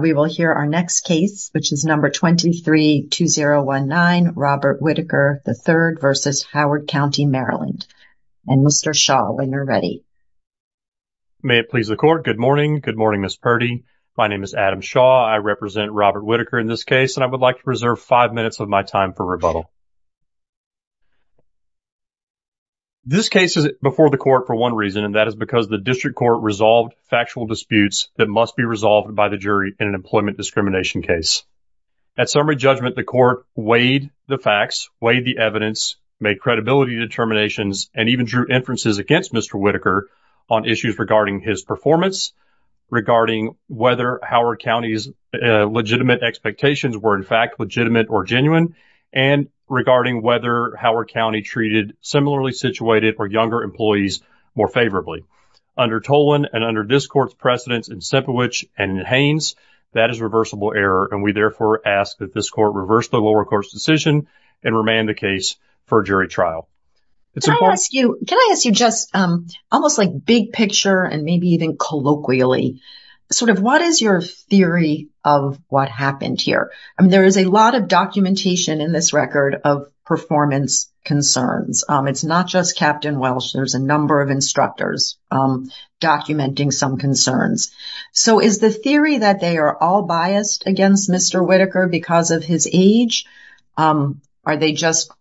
We will hear our next case which is number 23-2019 Robert Whittaker, III v. Howard County, Maryland and Mr. Shaw when you're ready. May it please the court. Good morning. Good morning, Ms. Purdy. My name is Adam Shaw. I represent Robert Whittaker in this case and I would like to preserve five minutes of my time for rebuttal. This case is before the court for one reason and that is because the district court resolved factual disputes that must be resolved by the jury in an employment discrimination case. At summary judgment the court weighed the facts, weighed the evidence, made credibility determinations and even drew inferences against Mr. Whittaker on issues regarding his performance, regarding whether Howard County's legitimate expectations were in fact legitimate or genuine, and regarding whether Howard County treated similarly situated or younger employees more favorably. Under Tolan and under this court's precedents in Sipowich and Haines that is reversible error and we therefore ask that this court reverse the lower court's decision and remand the case for jury trial. Can I ask you just almost like big picture and maybe even colloquially sort of what is your theory of what happened here? I mean there is a lot of documentation in this record of performance concerns. It's not just Captain Welsh, there's a number of instructors documenting some concerns. So is the theory that they are all biased against Mr. Whittaker because of his age? Are they just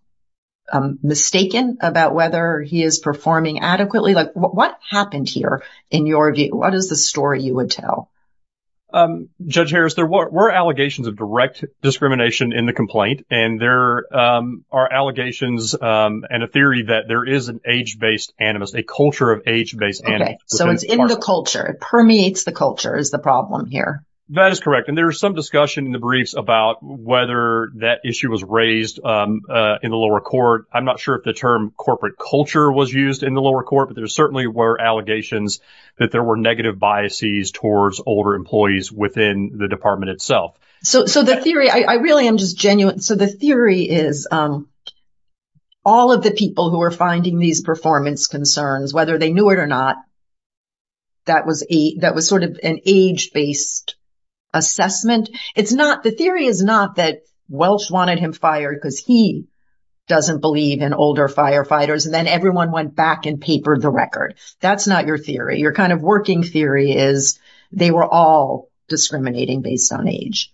mistaken about whether he is performing adequately? Like what happened here in your view? What is the story you would tell? Judge Harris there were allegations of direct discrimination in the complaint and there are allegations and a theory that there is an age-based animus, a culture of age-based animus. So it's in the culture, it permeates the culture is the problem here. That is correct and there is some discussion in the briefs about whether that issue was raised in the lower court. I'm not sure if the term corporate culture was used in the lower court but there certainly were allegations that there were negative biases towards older employees within the department itself. So the theory is all of the people who are finding these performance concerns whether they knew it or not that was a that was sort of an age-based assessment. It's not the theory is not that Welsh wanted him fired because he doesn't believe in older firefighters and then everyone went back and papered the record. That's not your theory. Your kind of working theory is they were all discriminating based on age.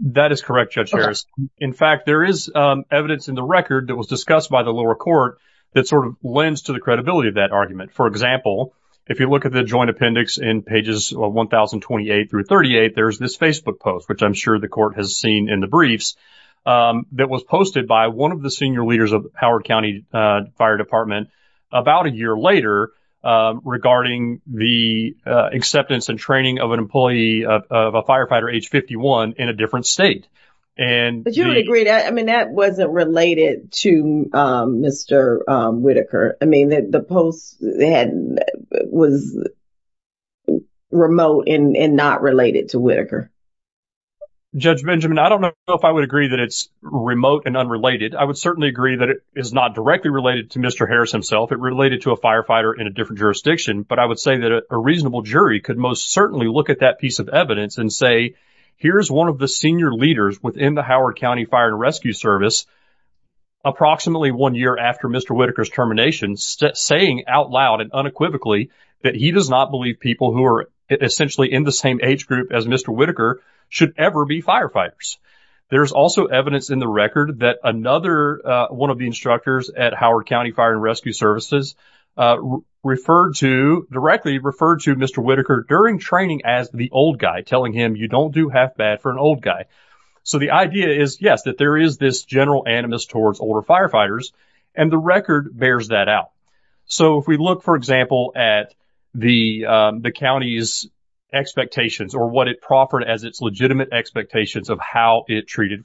That is correct Judge Harris. In fact there is evidence in the record that was discussed by the lower court that sort of lends to the credibility of that argument. For example if you look at the joint appendix in pages of 1028 through 38 there's this Facebook post which I'm sure the court has seen in the briefs that was posted by one of the senior leaders of Howard County Fire Department about a year later regarding the acceptance and training of an employee of a firefighter age 51 in a different state. But you would agree that I mean that wasn't related to Mr. Whitaker. I mean that the post was remote and not related to Whitaker. Judge Benjamin I don't know if I would agree that it's remote and unrelated. I would certainly agree that it is not directly related to Mr. Harris himself. It related to a reasonable jury could most certainly look at that piece of evidence and say here's one of the senior leaders within the Howard County Fire and Rescue Service approximately one year after Mr. Whitaker's termination saying out loud and unequivocally that he does not believe people who are essentially in the same age group as Mr. Whitaker should ever be firefighters. There's also evidence in the record that another one of the instructors at Howard County Fire and Rescue Services referred to directly referred to Mr. Whitaker during training as the old guy telling him you don't do half bad for an old guy. So the idea is yes that there is this general animus towards older firefighters and the record bears that out. So if we look for example at the county's expectations or what it proffered as its legitimate expectations of how it treated him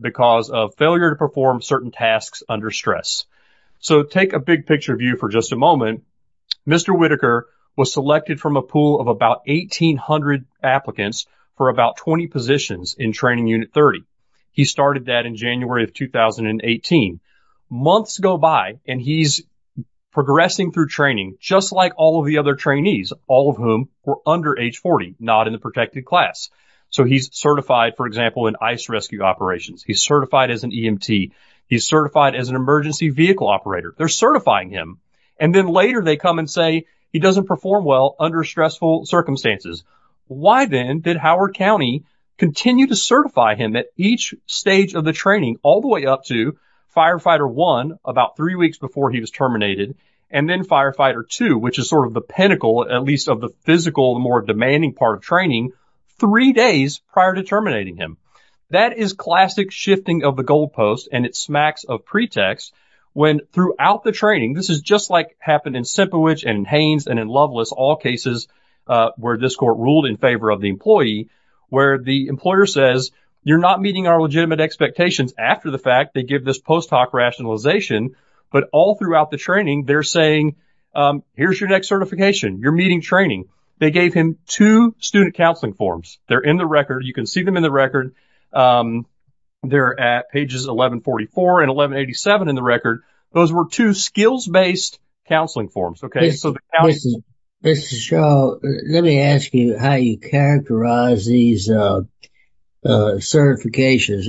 because of failure to perform certain tasks under stress. So take a big picture view for just a moment. Mr. Whitaker was selected from a pool of about 1,800 applicants for about 20 positions in training unit 30. He started that in January of 2018. Months go by and he's progressing through training just like all of the other trainees all of whom were under age 40 not in the class. So he's certified for example in ice rescue operations. He's certified as an EMT. He's certified as an emergency vehicle operator. They're certifying him and then later they come and say he doesn't perform well under stressful circumstances. Why then did Howard County continue to certify him at each stage of the training all the way up to firefighter one about three weeks before he was terminated and then firefighter two which is sort of the pinnacle at least of the physical more demanding part of training three days prior to terminating him. That is classic shifting of the goalpost and it smacks of pretext when throughout the training this is just like happened in Sempiewicz and Haines and in Loveless all cases where this court ruled in favor of the employee where the employer says you're not meeting our legitimate expectations after the fact they give this post hoc rationalization but all throughout the they're saying here's your next certification you're meeting training they gave him two student counseling forms they're in the record you can see them in the record they're at pages 1144 and 1187 in the record those were two skills-based counseling forms okay so this is show let me ask you how you characterize these certifications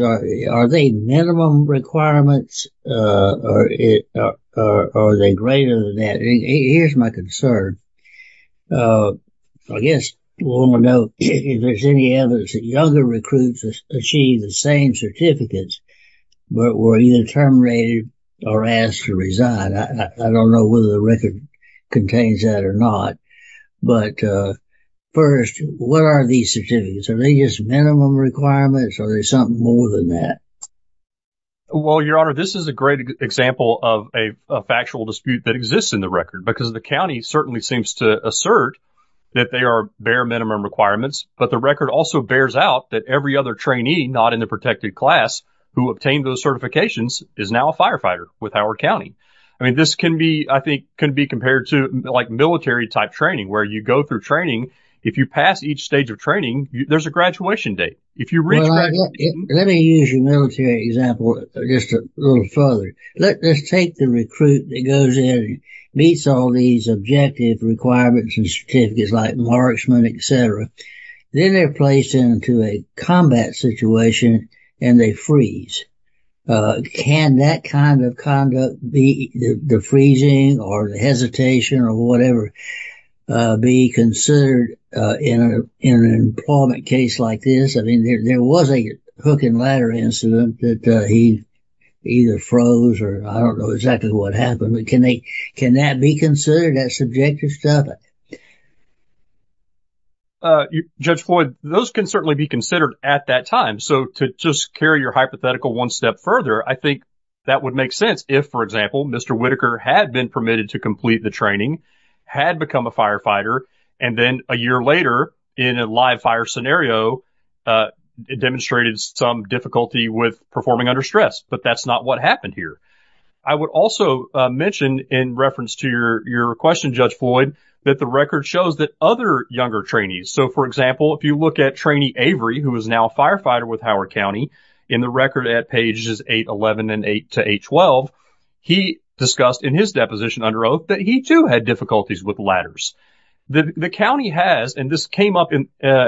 are they minimum requirements or it or are they greater than that here's my concern I guess we'll know if there's any evidence that younger recruits achieved the same certificates but were either terminated or asked to resign I don't know whether the record contains that or not but first what are these certificates are they just minimum requirements or there's something more than that well your honor this is a great example of a factual dispute that exists in the record because the county certainly seems to assert that they are bare minimum requirements but the record also bears out that every other trainee not in the protected class who obtained those certifications is now a firefighter with Howard County I mean this can be I think can be compared to like military type training where you go through training if you pass each stage of training there's a graduation date if you let me use your military example just a little further let's take the recruit that goes in meets all these objective requirements and certificates like marksman etc then they're placed into a combat situation and they freeze can that kind of conduct be the freezing or the hesitation or whatever be considered in an employment case like this I mean there was a hook and ladder incident that he either froze or I don't know exactly what happened but can they can that be considered that subjective stuff judge Floyd those can certainly be considered at that time so to just carry your hypothetical one step further I think that would make sense if for example mr. Whitaker had been permitted to complete the training had become a firefighter and then a year later in a live-fire scenario it demonstrated some difficulty with performing under stress but that's not what happened here I would also mention in reference to your your question judge Floyd that the record shows that other younger trainees so for example if you look at trainee Avery who is now a firefighter with Howard County in the record at pages 811 and 8 to 812 he discussed in his deposition under oath that he too had difficulties with ladders the county has and this came up in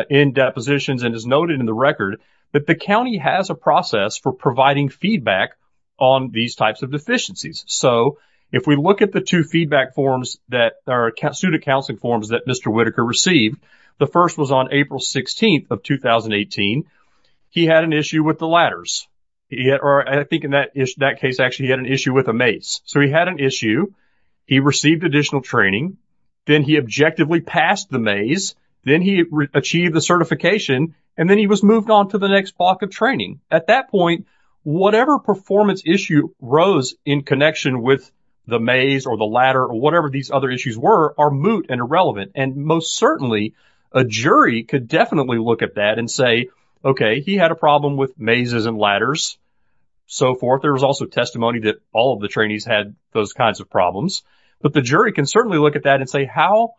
in depositions and is noted in the record that the county has a process for providing feedback on these types of deficiencies so if we look at the two feedback forms that our student counseling forms that mr. Whitaker received the first was on April 16th of 2018 he had an issue with the ladders yet or I think in that is that case actually had an issue with a mace so he had an issue he received additional training then he objectively passed the maze then he achieved the certification and then he was moved on to the next block of training at that point whatever performance issue rose in connection with the maze or the ladder or whatever these other issues were are moot and irrelevant and most certainly a jury could definitely look at that and say okay he had a problem with mazes and ladders so forth there was also testimony that all of the trainees had those kinds of problems but the jury can certainly look at that and say how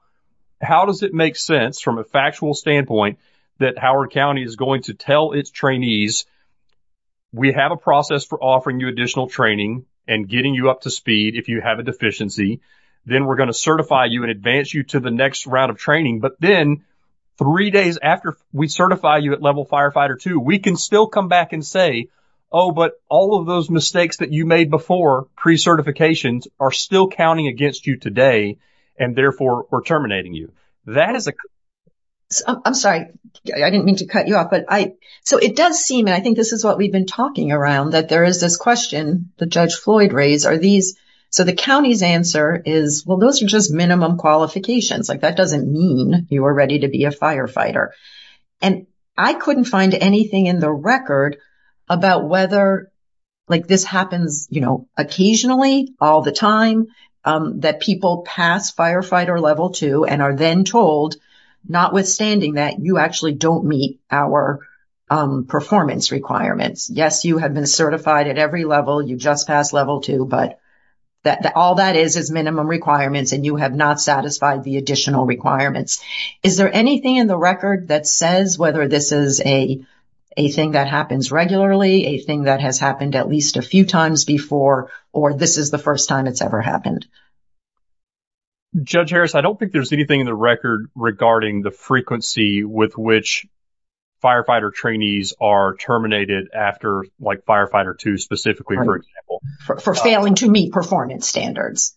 how does it make sense from a factual standpoint that Howard County is going to tell its trainees we have a process for offering you additional training and getting you up to speed if you have a deficiency then we're going to certify you in advance you to the next round of training but then three days after we certify you at level firefighter to we can still come back and say oh but all of those mistakes that you made before pre certifications are still counting against you today and therefore we're terminating you that is a I'm sorry I didn't mean to cut you off but I so it does seem and I think this is what we've been talking around that there is this question the judge Floyd raise are these so the county's answer is well those are just minimum qualifications like that doesn't mean you were ready to be a firefighter and I couldn't find anything in the record about whether like this happens you know occasionally all the time that people pass firefighter level 2 and are then told notwithstanding that you actually don't meet our performance requirements yes you have been certified at every level you just passed level 2 but that all that is is minimum requirements and you have not satisfied the additional requirements is there anything in the record that says whether this is a a thing that happens regularly a thing that has happened at least a few times before or this is the first time it's ever happened judge Harris I don't think there's anything in the record regarding the frequency with which firefighter trainees are terminated after like firefighter to specifically for example for failing to meet performance standards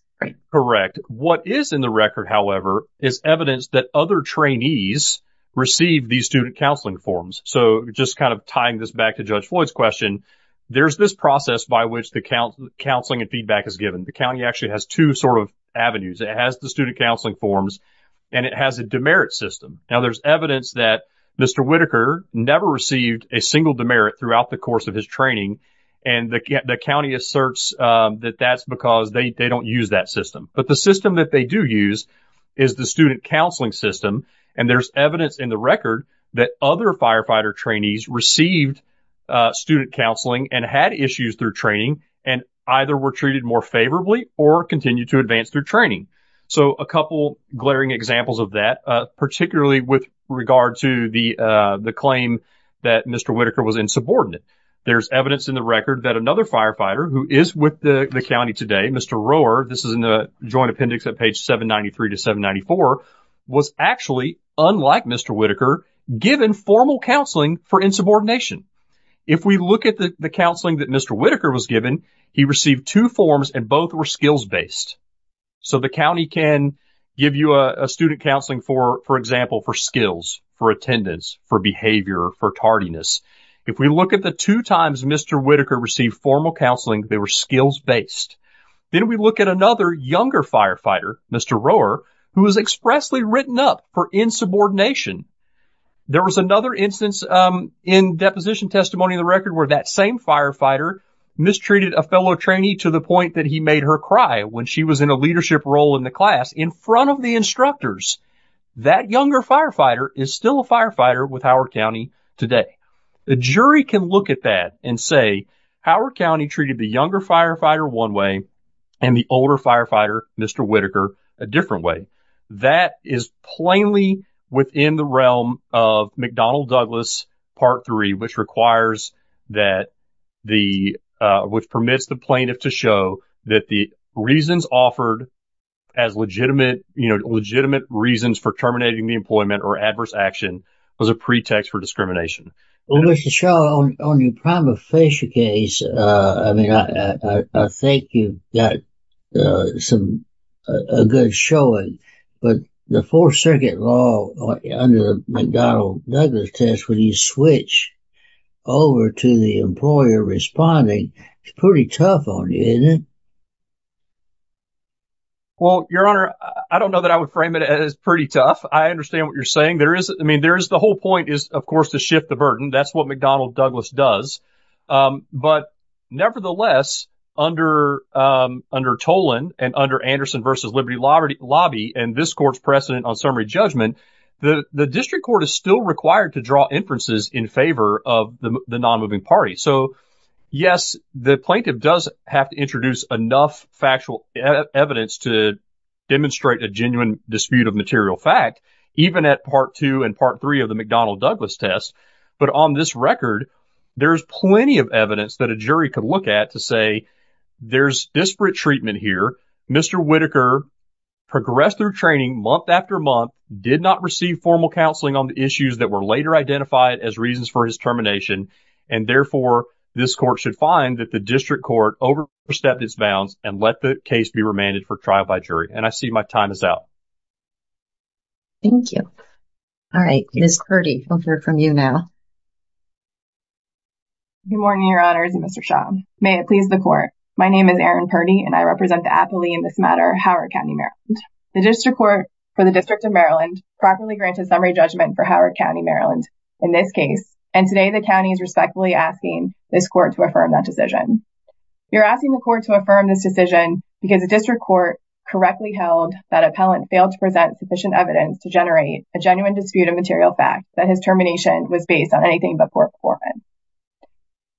correct what is in the record however is evidence that other trainees receive these student counseling forms so just kind of tying this back to judge Floyd's question there's this process by which the count counseling and feedback is given the county actually has two sort of avenues it has the student counseling forms and it has a demerit system now there's evidence that mr. Whitaker never received a single demerit throughout the course of his training and the county asserts that that's because they don't use that system but the system that they do use is the student counseling system and there's evidence in the record that other firefighter trainees received student counseling and had issues through training and either were treated more favorably or continue to advance their training so a couple glaring examples of that particularly with regard to the the claim that mr. Whitaker was insubordinate there's evidence in the record that another firefighter who is with the county today mr. Rohr this is in the joint appendix at page 793 to 794 was actually unlike mr. Whitaker given formal counseling for insubordination if we look at the the counseling that mr. Whitaker was given he received two forms and both were skills based so the county can give you a student counseling for for example for skills for attendance for behavior for tardiness if we look at the two times mr. Whitaker received formal counseling they were skills based then we look at another younger firefighter mr. Rohr who was expressly written up for insubordination there was another instance in deposition testimony in the record where that same firefighter mistreated a fellow trainee to the point that he made her cry when she was in a leadership role in the class in front of the instructors that younger firefighter is still a firefighter with Howard County today the jury can look at that and say Howard County treated the younger firefighter one way and the older firefighter mr. Whitaker a different way that is plainly within the realm of McDonnell Douglas part 3 which requires that the which permits the plaintiff to show that the reasons offered as legitimate you know legitimate reasons for terminating the employment or adverse action was a show only prime official case I mean I think you've got some a good showing but the Fourth Circuit law under the McDonnell Douglas test when you switch over to the employer responding it's pretty tough on you isn't it well your honor I don't know that I would frame it as pretty tough I understand what you're saying there is I mean there is the whole point is of course to shift the burden that's what McDonnell Douglas does but nevertheless under under Tolan and under Anderson versus Liberty Lobby and this court's precedent on summary judgment the the district court is still required to draw inferences in favor of the non-moving party so yes the plaintiff does have to introduce enough factual evidence to demonstrate a genuine dispute of material fact even at part 2 and part 3 of the McDonnell Douglas test but on this record there's plenty of evidence that a jury could look at to say there's disparate treatment here mr. Whitaker progressed through training month after month did not receive formal counseling on the issues that were later identified as reasons for his termination and therefore this court should find that the district court over stepped its bounds and let the case be remanded for trial by jury and I see my time is out thank you all right Miss Purdy I'll hear from you now Good morning your honors and Mr. Shaw may it please the court my name is Erin Purdy and I represent the appellee in this matter Howard County Maryland the district court for the District of Maryland properly granted summary judgment for Howard County Maryland in this case and today the county is respectfully asking this court to affirm that decision you're asking the court to affirm this decision because the district court correctly held that appellant failed to present sufficient evidence to generate a genuine dispute of material fact that his termination was based on anything but poor performance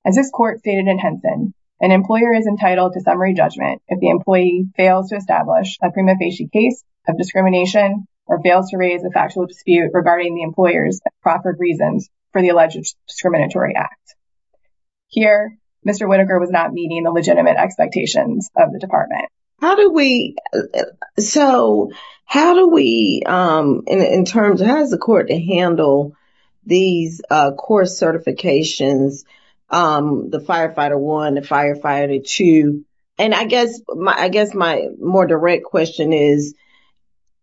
as this court stated in Henson an employer is entitled to summary judgment if the employee fails to establish a prima facie case of discrimination or fails to raise a factual dispute regarding the employers proper reasons for the alleged discriminatory act here mr. Whitaker was not meeting the legitimate expectations of the department how do we so how do we in terms of how does the court to handle these course certifications the firefighter one the firefighter two and I guess my I guess my more direct question is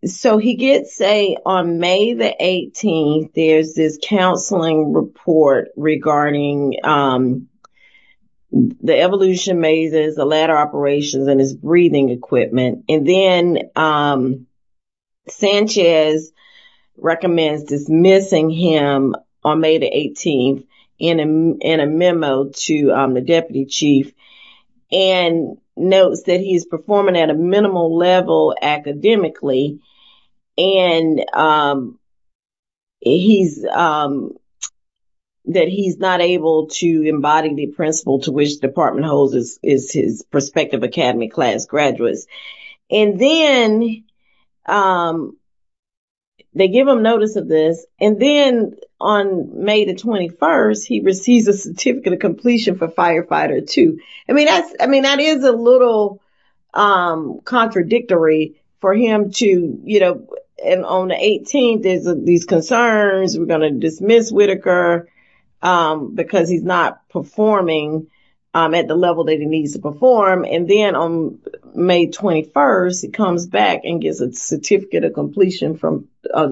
so he gets a on May the 18th there's this counseling report regarding the evolution mazes the ladder operations and his breathing equipment and then Sanchez recommends dismissing him on May the 18th in a memo to the deputy chief and notes that he's performing at a minimal level academically and he's that he's not able to embody the principle to which department hoses is his prospective Academy class graduates and then they give him notice of this and then on May the 21st he receives a certificate of completion for firefighter to I mean that's I mean that is a little contradictory for him to you know and on the 18th is these concerns we're gonna performing at the level that he needs to perform and then on May 21st it comes back and gives a certificate of completion from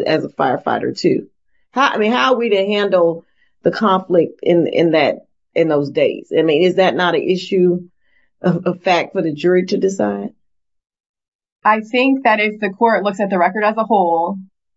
as a firefighter to I mean how are we to handle the conflict in that in those days I mean is that not an issue of fact for the jury to decide I think that if the court looks at the record as a whole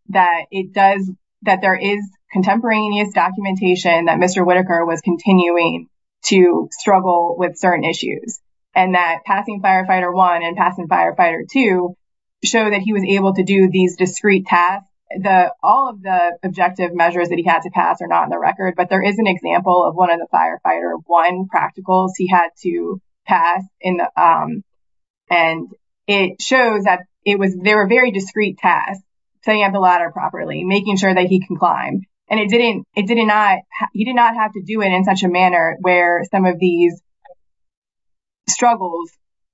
that it does that there is contemporaneous documentation that mr. Whitaker was continuing to struggle with certain issues and that passing firefighter one and passing firefighter to show that he was able to do these discreet tasks the all of the objective measures that he had to pass or not in the record but there is an example of one of the firefighter one practicals he had to pass in and it shows that it was they were very discreet tasks setting up the ladder properly making sure that he can climb and it didn't it did not you did not have to do it in such a manner where some of these struggles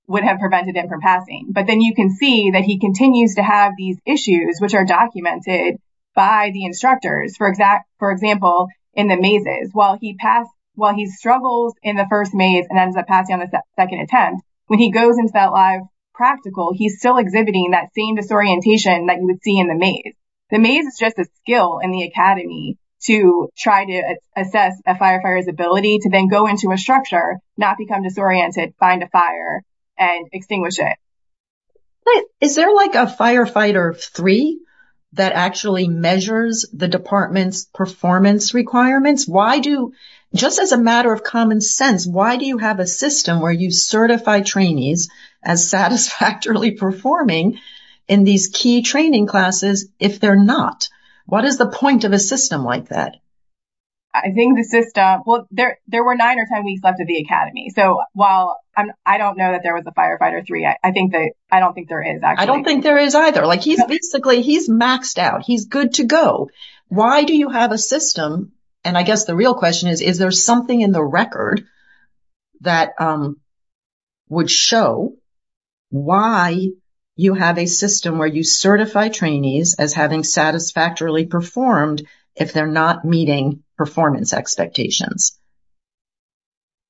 would have prevented him from passing but then you can see that he continues to have these issues which are documented by the instructors for exact for example in the mazes while he passed while he struggles in the first maze and ends up passing on the second attempt when he goes into that live practical he's still exhibiting that same disorientation that you would see in the maze the maze is just a skill in the Academy to try to assess a firefighter's ability to then go into a structure not become disoriented find a fire and extinguish it is there like a firefighter three that actually measures the department's performance requirements why do just as a matter of common sense why do you have a system where you certify trainees as satisfactorily performing in these key training classes if they're not what is the point of a system like that I think the system well there there were nine or ten weeks left of the Academy so while I don't know that there was a firefighter three I think that I don't think there is I don't think there is either like he's basically he's maxed out he's good to go why do you have a system and I guess the real question is is there something in the record that would show why you have a system where you certify trainees as having satisfactorily performed if they're not meeting performance expectations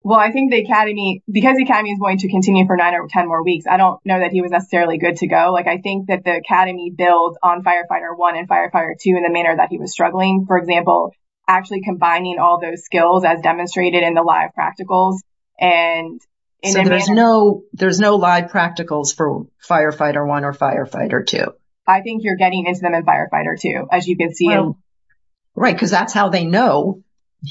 well I think the Academy because he can he's going to continue for nine or ten more weeks I don't know that he was necessarily good to go like I think that the Academy builds on firefighter one and firefighter two in the manner that he was struggling for example actually combining all those skills as demonstrated in the live practicals and so there's no there's no live practicals for firefighter one or firefighter two I think you're getting into them in firefighter two as you can see oh right because that's how they know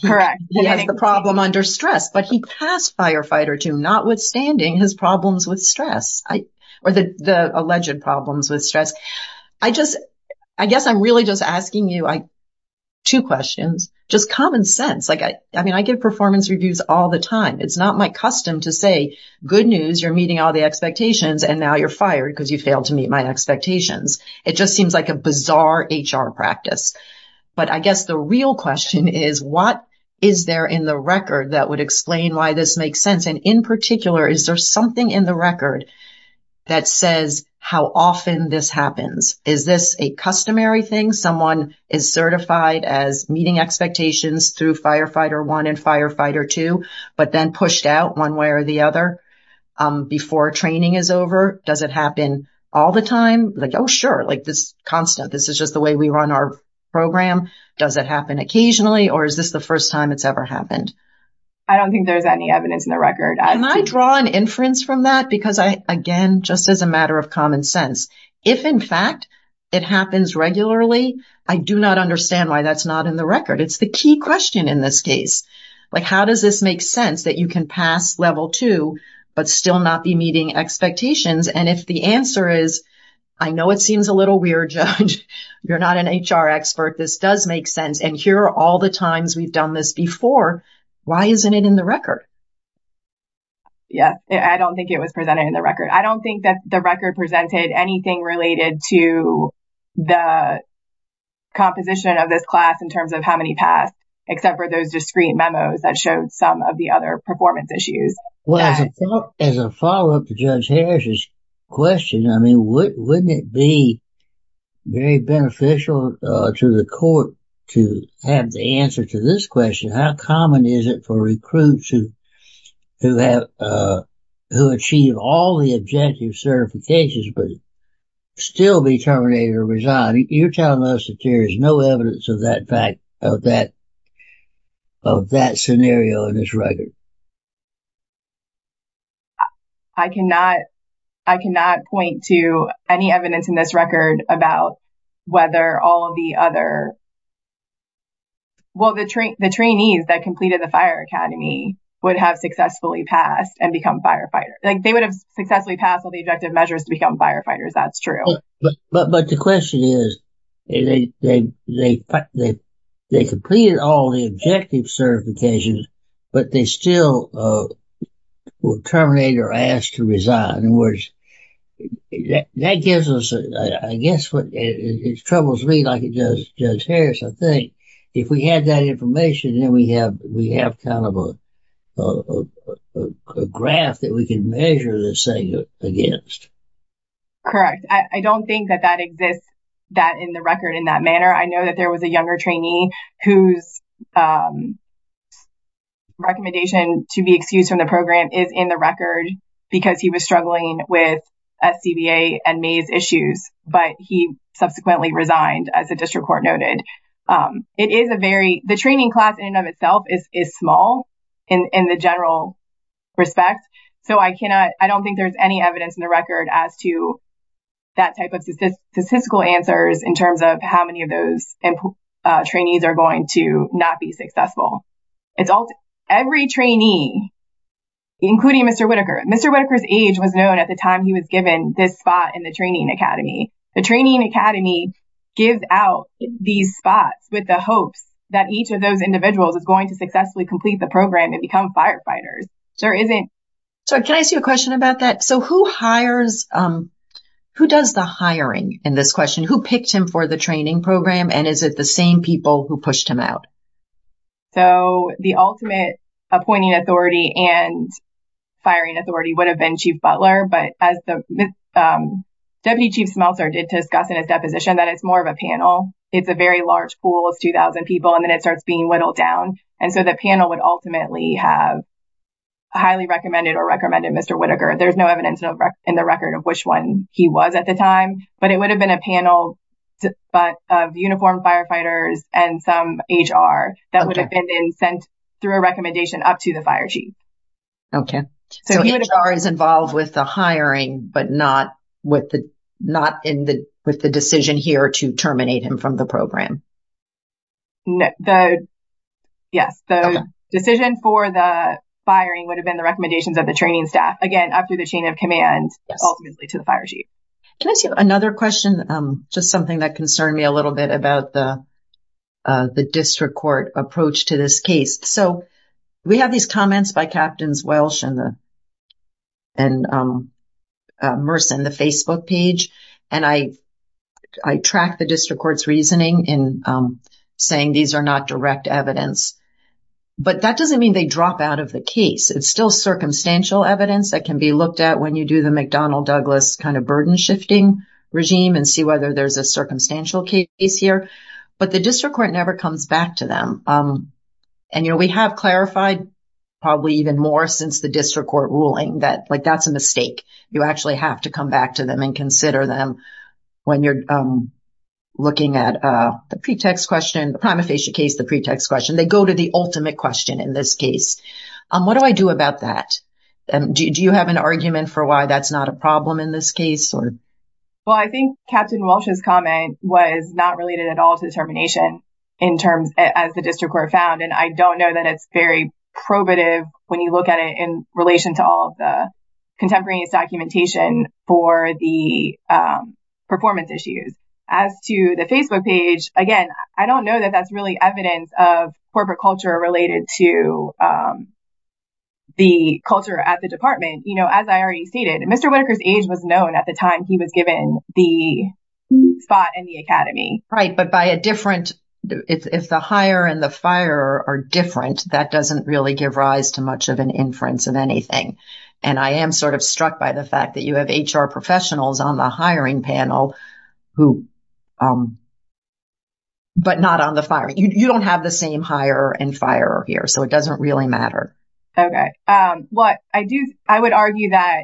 correct he has the problem under stress but he passed firefighter two notwithstanding his problems with stress I or the alleged problems with stress I just I guess I'm really just asking you I two questions just common sense like I mean I give performance reviews all the time it's not my custom to say good news you're meeting all the expectations and now you're fired because you failed to meet my expectations it just seems like a bizarre HR practice but I guess the real question is what is there in the record that would explain why this makes sense and in particular is there something in the record that says how often this happens is this a customary thing someone is certified as meeting expectations through firefighter one and firefighter two but then pushed out one way or the other before training is over does it happen all the time like oh sure like this constant this is just the way we run our program does it happen occasionally or is this the first time it's ever happened I don't think there's any evidence in the record I might draw an inference from that because I again just as a matter of common sense if in fact it happens regularly I do not understand why that's not in the record it's the key question in this case like how does this make sense that you can pass level two but still not be meeting expectations and if the answer is I know it seems a little weird you're not an HR expert this does make sense and here are all the times we've done this before why isn't it in the record yeah I don't think it was presented in the record I don't think that the record presented anything related to the composition of this class in terms of how many passed except for those discreet memos that showed some of the other performance issues well as a follow-up to judge Harris's question I mean what wouldn't it be very beneficial to the court to have the answer to this question how common is it for recruits who who have who achieve all the objective certifications but still be terminated or resigned you're telling us that there is no evidence of that fact of that of that scenario in this record I cannot I cannot point to any evidence in this record about whether all of the other well the train the trainees that completed the Fire Academy would have successfully passed and become firefighters like they would have successfully passed all the objective measures to become firefighters that's true but but but the question is they they they completed all the objective certifications but they still will terminate or asked to resign in words that gives us I guess what it troubles me like it does judge Harris I think if we had that information and we have we have kind of a graph that we can measure this thing against correct I don't think that that exists that in the record in that manner I know that there was a younger trainee whose recommendation to be excused from the program is in the record because he was struggling with a CBA and maze issues but he subsequently resigned as a district court noted it is a very the training class in and of itself is small in the general respect so I cannot I don't think there's any evidence in the record as to that type of statistical answers in terms of how many of those and trainees are going to not be successful it's all every trainee including mr. Whitaker mr. Whitaker's age was known at the time he was given this in the training Academy the training Academy gives out these spots with the hopes that each of those individuals is going to successfully complete the program and become firefighters there isn't so can I see a question about that so who hires who does the hiring in this question who picked him for the training program and is it the same people who pushed him out so the ultimate appointing authority and firing authority would have been chief Butler but as the deputy chief Smeltzer did discuss in his deposition that it's more of a panel it's a very large pool of 2,000 people and then it starts being whittled down and so the panel would ultimately have highly recommended or recommended mr. Whitaker there's no evidence in the record of which one he was at the time but it would have been a panel but of uniformed firefighters and some HR that would have been sent through a recommendation up to the fire chief okay so HR is involved with the hiring but not with the not in the with the decision here to terminate him from the program yes the decision for the firing would have been the recommendations of the training staff again after the chain of command ultimately to the fire chief can I see another question just something that concerned me a little bit about the the district court approach to this case so we have these comments by captains Welsh and the and Merson the Facebook page and I I track the district courts reasoning in saying these are not direct evidence but that doesn't mean they drop out of the case it's still circumstantial evidence that can be looked at when you do the McDonnell Douglas kind of burden shifting regime and see whether there's a circumstantial case here but the district court never comes back to them and you know we have clarified probably even more since the district court ruling that like that's a mistake you actually have to come back to them and consider them when you're looking at the pretext question the prima facie case the pretext question they go to the ultimate question in this case what do I do about that and do you have an argument for why that's not a problem in this case or well I think Captain Walsh's comment was not related at all to the termination in terms as the district court found and I don't know that it's very probative when you look at it in relation to all the contemporaneous documentation for the performance issues as to the Facebook page again I don't know that that's really evidence of corporate culture related to the culture at the department you know as I already stated and mr. Whitaker's age was known at the time he was given the spot in the Academy right but by a different if the hire and the fire are different that doesn't really give rise to much of an inference of anything and I am sort of struck by the fact that you have HR professionals on the hiring panel who but not on the fire you don't have the same hire and fire here so it doesn't really matter okay what I do I would argue that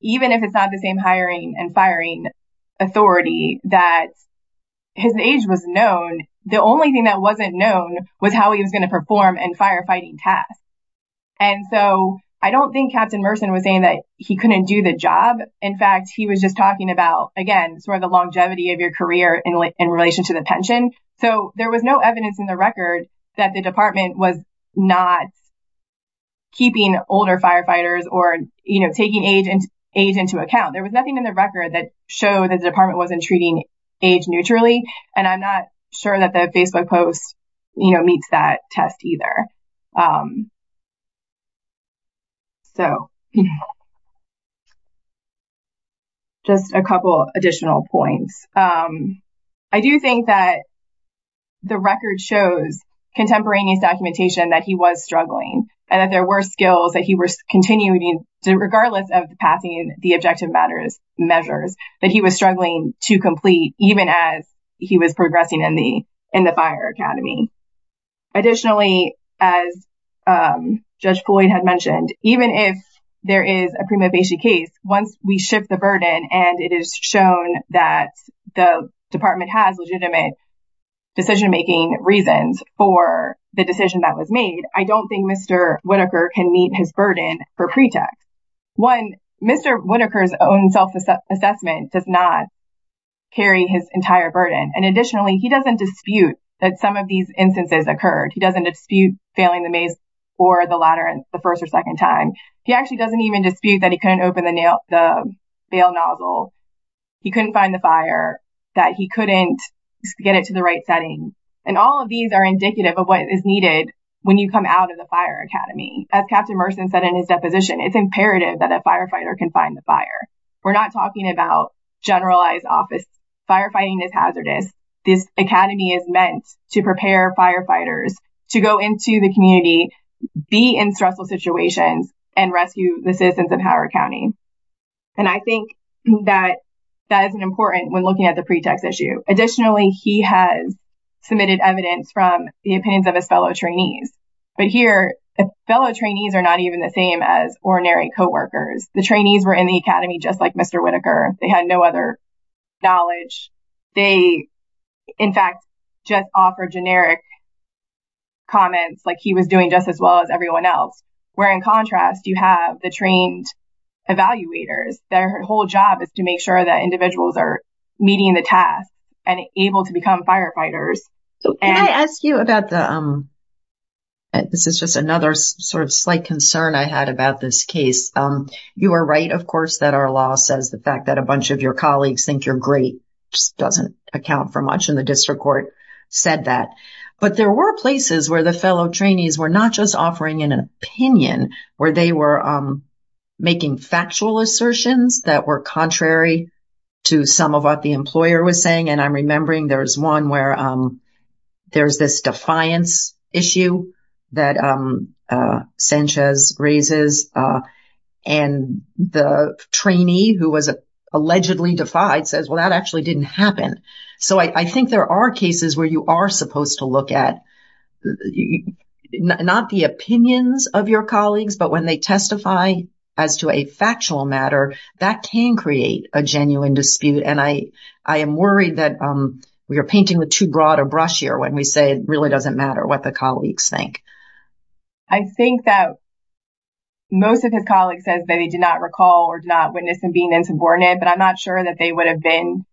even if it's not the same hiring and firing authority that his age was known the only thing that wasn't known was how he was going to perform and firefighting tasks and so I don't think Captain Merson was saying that he couldn't do the job in fact he was just talking about again sort of the longevity of your career in relation to the pension so there was no evidence in the record that the department was not keeping older firefighters or you know taking agent age into account there was nothing in the record that showed that the department wasn't treating age neutrally and I'm not sure that the Facebook post you know meets that test either so just a couple additional points I do think that the record shows contemporaneous documentation that he was struggling and that there were skills that he was continuing to regardless of the passing the objective matters measures that he was struggling to complete even as he was progressing in the in the fire Academy additionally as Judge Floyd had mentioned even if there is a prima and it is shown that the department has legitimate decision-making reasons for the decision that was made I don't think mr. Whitaker can meet his burden for pretext one mr. Whitaker's own self-assessment does not carry his entire burden and additionally he doesn't dispute that some of these instances occurred he doesn't dispute failing the maze or the ladder and the first or second time he actually doesn't even dispute that he couldn't open the bail nozzle he couldn't find the fire that he couldn't get it to the right setting and all of these are indicative of what is needed when you come out of the fire Academy as captain Merson said in his deposition it's imperative that a firefighter can find the fire we're not talking about generalized office firefighting is hazardous this Academy is meant to prepare firefighters to go into the community be in stressful situations and rescue the citizens of County and I think that that isn't important when looking at the pretext issue additionally he has submitted evidence from the opinions of his fellow trainees but here the fellow trainees are not even the same as or narrate co-workers the trainees were in the Academy just like mr. Whitaker they had no other knowledge they in fact just offer generic comments like he was doing just as well as everyone else where in contrast you have the trained evaluators their whole job is to make sure that individuals are meeting the task and able to become firefighters so and I ask you about the this is just another sort of slight concern I had about this case you are right of course that our law says the fact that a bunch of your colleagues think you're great just doesn't account for much in the district court said that but there were places where the fellow trainees were not just offering in an opinion where they were making factual assertions that were contrary to some of what the employer was saying and I'm remembering there's one where there's this defiance issue that Sanchez raises and the trainee who was allegedly defied says well that actually didn't happen so I think there are cases where you are supposed to look at you not the opinions of your colleagues but when they testify as to a factual matter that can create a genuine dispute and I I am worried that we are painting with too broad a brush here when we say it really doesn't matter what the colleagues think I think that most of his colleagues says that he did not recall or not witness and being in subordinate but I'm not sure that they would have been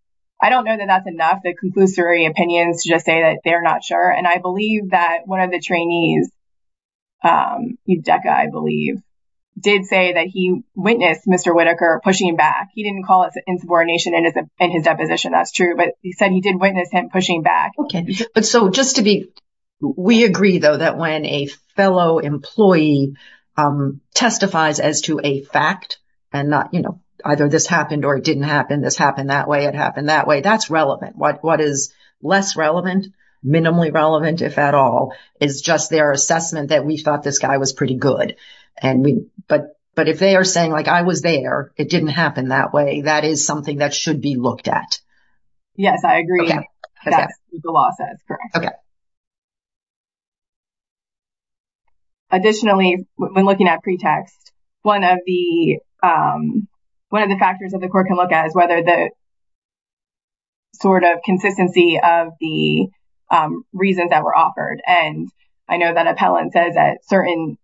I don't know that that's enough the conclusory opinions to just say that they're not sure and I believe that one of the trainees you DECA I believe did say that he witnessed mr. Whitaker pushing back he didn't call it insubordination and his deposition that's true but he said he did witness him pushing back okay but so just to be we agree though that when a fellow employee testifies as to a fact and not you know either this happened or it didn't happen this happened that way it happened that way that's relevant what what is less relevant minimally relevant if at all it's just their assessment that we thought this guy was pretty good and we but but if they are saying like I was there it didn't happen that way that is something that should be looked at yes I agree additionally when looking at pretext one of the one of the factors that the court can look at is whether the sort of consistency of the reasons that were offered and I know that appellant says that certain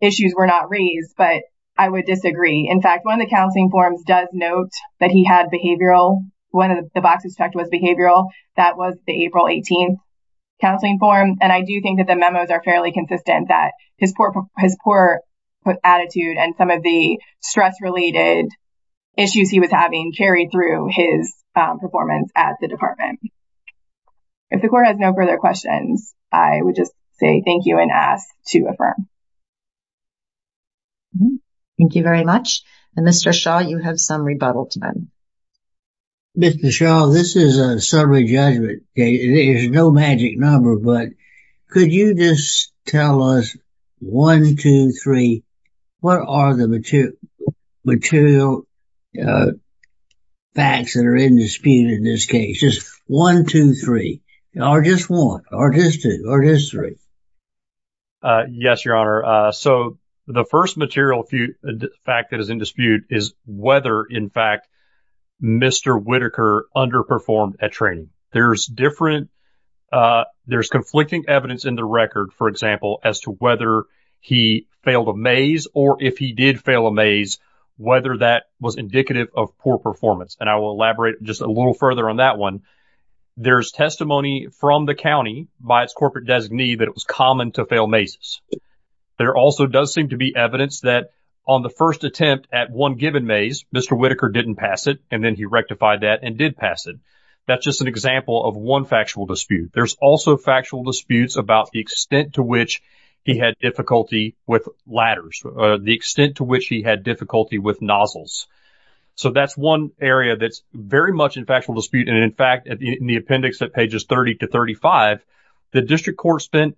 issues were not raised but I would disagree in fact one of the counseling forms does note that he had behavioral one of the boxes checked was behavioral that was the April 18th counseling form and I do think that the memos are fairly consistent that his his poor attitude and some of the stress related issues he was having carried through his performance at the department if the court has no further questions I would just say thank you and ask to affirm thank you very much and mr. Shaw you have some rebuttal to them mr. Shaw this is a summary judgment there's no magic number but could you just tell us one two three what are the material material facts that are in dispute in this case just one two three or just one or just two or history yes your honor so the first material fact that is in dispute is whether in fact mr. Whitaker underperformed at training there's different there's conflicting evidence in the record for example as to whether he failed a maze or if he did fail a maze whether that was indicative of poor performance and I will elaborate just a little further on that one there's testimony from the county by its corporate designee that it was common to fail mazes there also does seem to be evidence that on the first attempt at one given maze mr. Whitaker didn't pass it and then he rectified that and did pass it that's just an example of one factual dispute there's also factual disputes about the extent to which he had difficulty with ladders the extent to which he had difficulty with nozzles so that's one area that's very much in factual dispute and in fact in the appendix at pages 30 to 35 the district court spent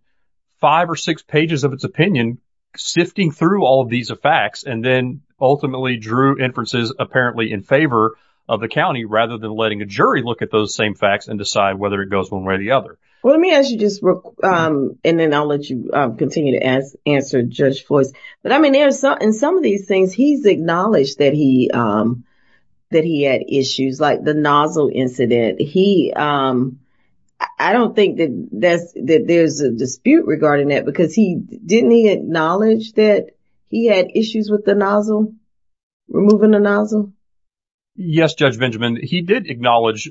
five or six pages of its opinion sifting through all of these effects and then ultimately drew inferences apparently in favor of the county rather than letting a jury look at those same facts and decide whether it goes one way or the other. Well let me ask you just and then I'll let you continue to answer judge Floyd's but I mean there's something some of these things he's acknowledged that he that he had issues like the nozzle incident he I don't think that that's that there's a dispute regarding that because he didn't he acknowledge that he had issues with the nozzle removing the nozzle? Yes judge Benjamin he did acknowledge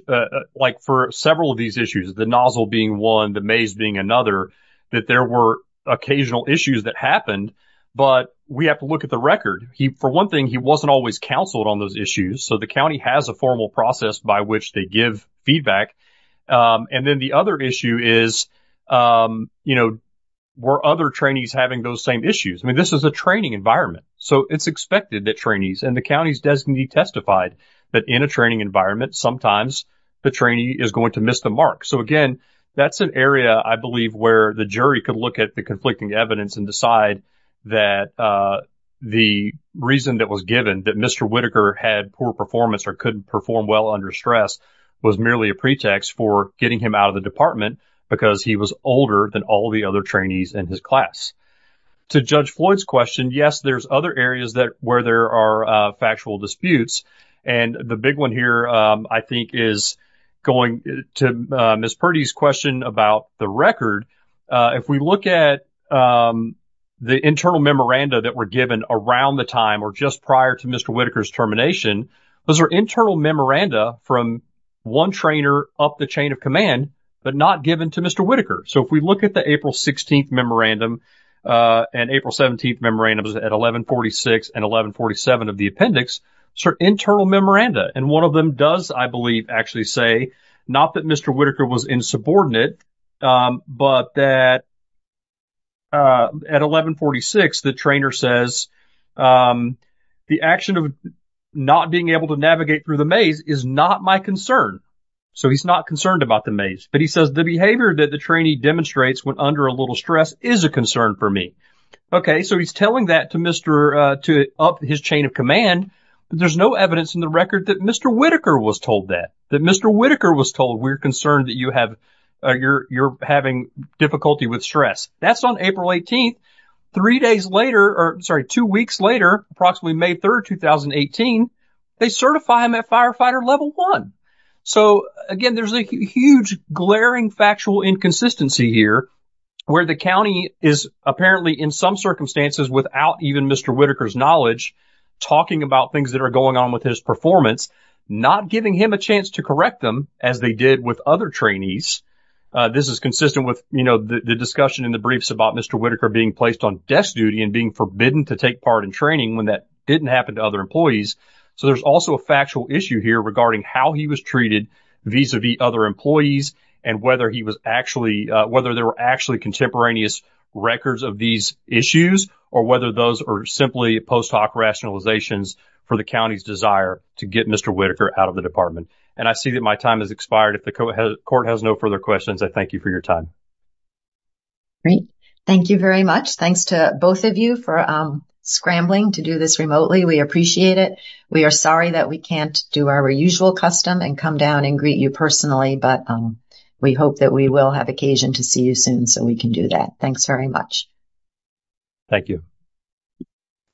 like for several of these issues the nozzle being one the maze being another that there were occasional issues that happened but we have to look at the record he for one thing he wasn't always counseled on those issues so the county has a formal process by which they give feedback and then the other issue is you know were other trainees having those same issues I mean this is a training environment so it's expected that trainees and the county's designee testified that in a training environment sometimes the trainee is going to miss the mark so again that's an area I believe where the jury could look at the conflicting evidence and decide that the reason that was given that mr. Whitaker had poor performance or couldn't perform well under stress was merely a pretext for getting him out of the department because he was older than all the other trainees in his class to judge Floyd's question yes there's other areas that where there are factual disputes and the big one here I think is going to miss Purdy's question about the record if we look at the internal memoranda that were given around the time or just prior to mr. Whitaker's termination those are internal memoranda from one trainer up the chain of command but not given to Whitaker so if we look at the April 16th memorandum and April 17th memorandums at 1146 and 1147 of the appendix sir internal memoranda and one of them does I believe actually say not that mr. Whitaker was insubordinate but that at 1146 the trainer says the action of not being able to navigate through the maze is not my concern so he's not concerned about the maze but he says the behavior that the trainee demonstrates went under a little stress is a concern for me okay so he's telling that to mr. to up his chain of command there's no evidence in the record that mr. Whitaker was told that that mr. Whitaker was told we're concerned that you have you're you're having difficulty with stress that's on April 18th three days later or sorry two weeks later approximately May 3rd 2018 they certify him at firefighter level one so again there's a huge glaring factual inconsistency here where the county is apparently in some circumstances without even mr. Whitaker's knowledge talking about things that are going on with his performance not giving him a chance to correct them as they did with other trainees this is consistent with you know the discussion in the briefs about mr. Whitaker being placed on desk duty and being forbidden to take part in training when that didn't happen to other employees so there's also a factual issue here regarding how he was treated vis-a-vis other employees and whether he was actually whether there were actually contemporaneous records of these issues or whether those are simply post hoc rationalizations for the county's desire to get mr. Whitaker out of the department and I see that my time has expired if the court has no further questions I thank you for your time great thank you very much thanks to both of you for scrambling to do this remotely we appreciate it we are sorry that we can't do our usual custom and come down and greet you personally but we hope that we will have occasion to see you soon so we can do that thanks very much thank you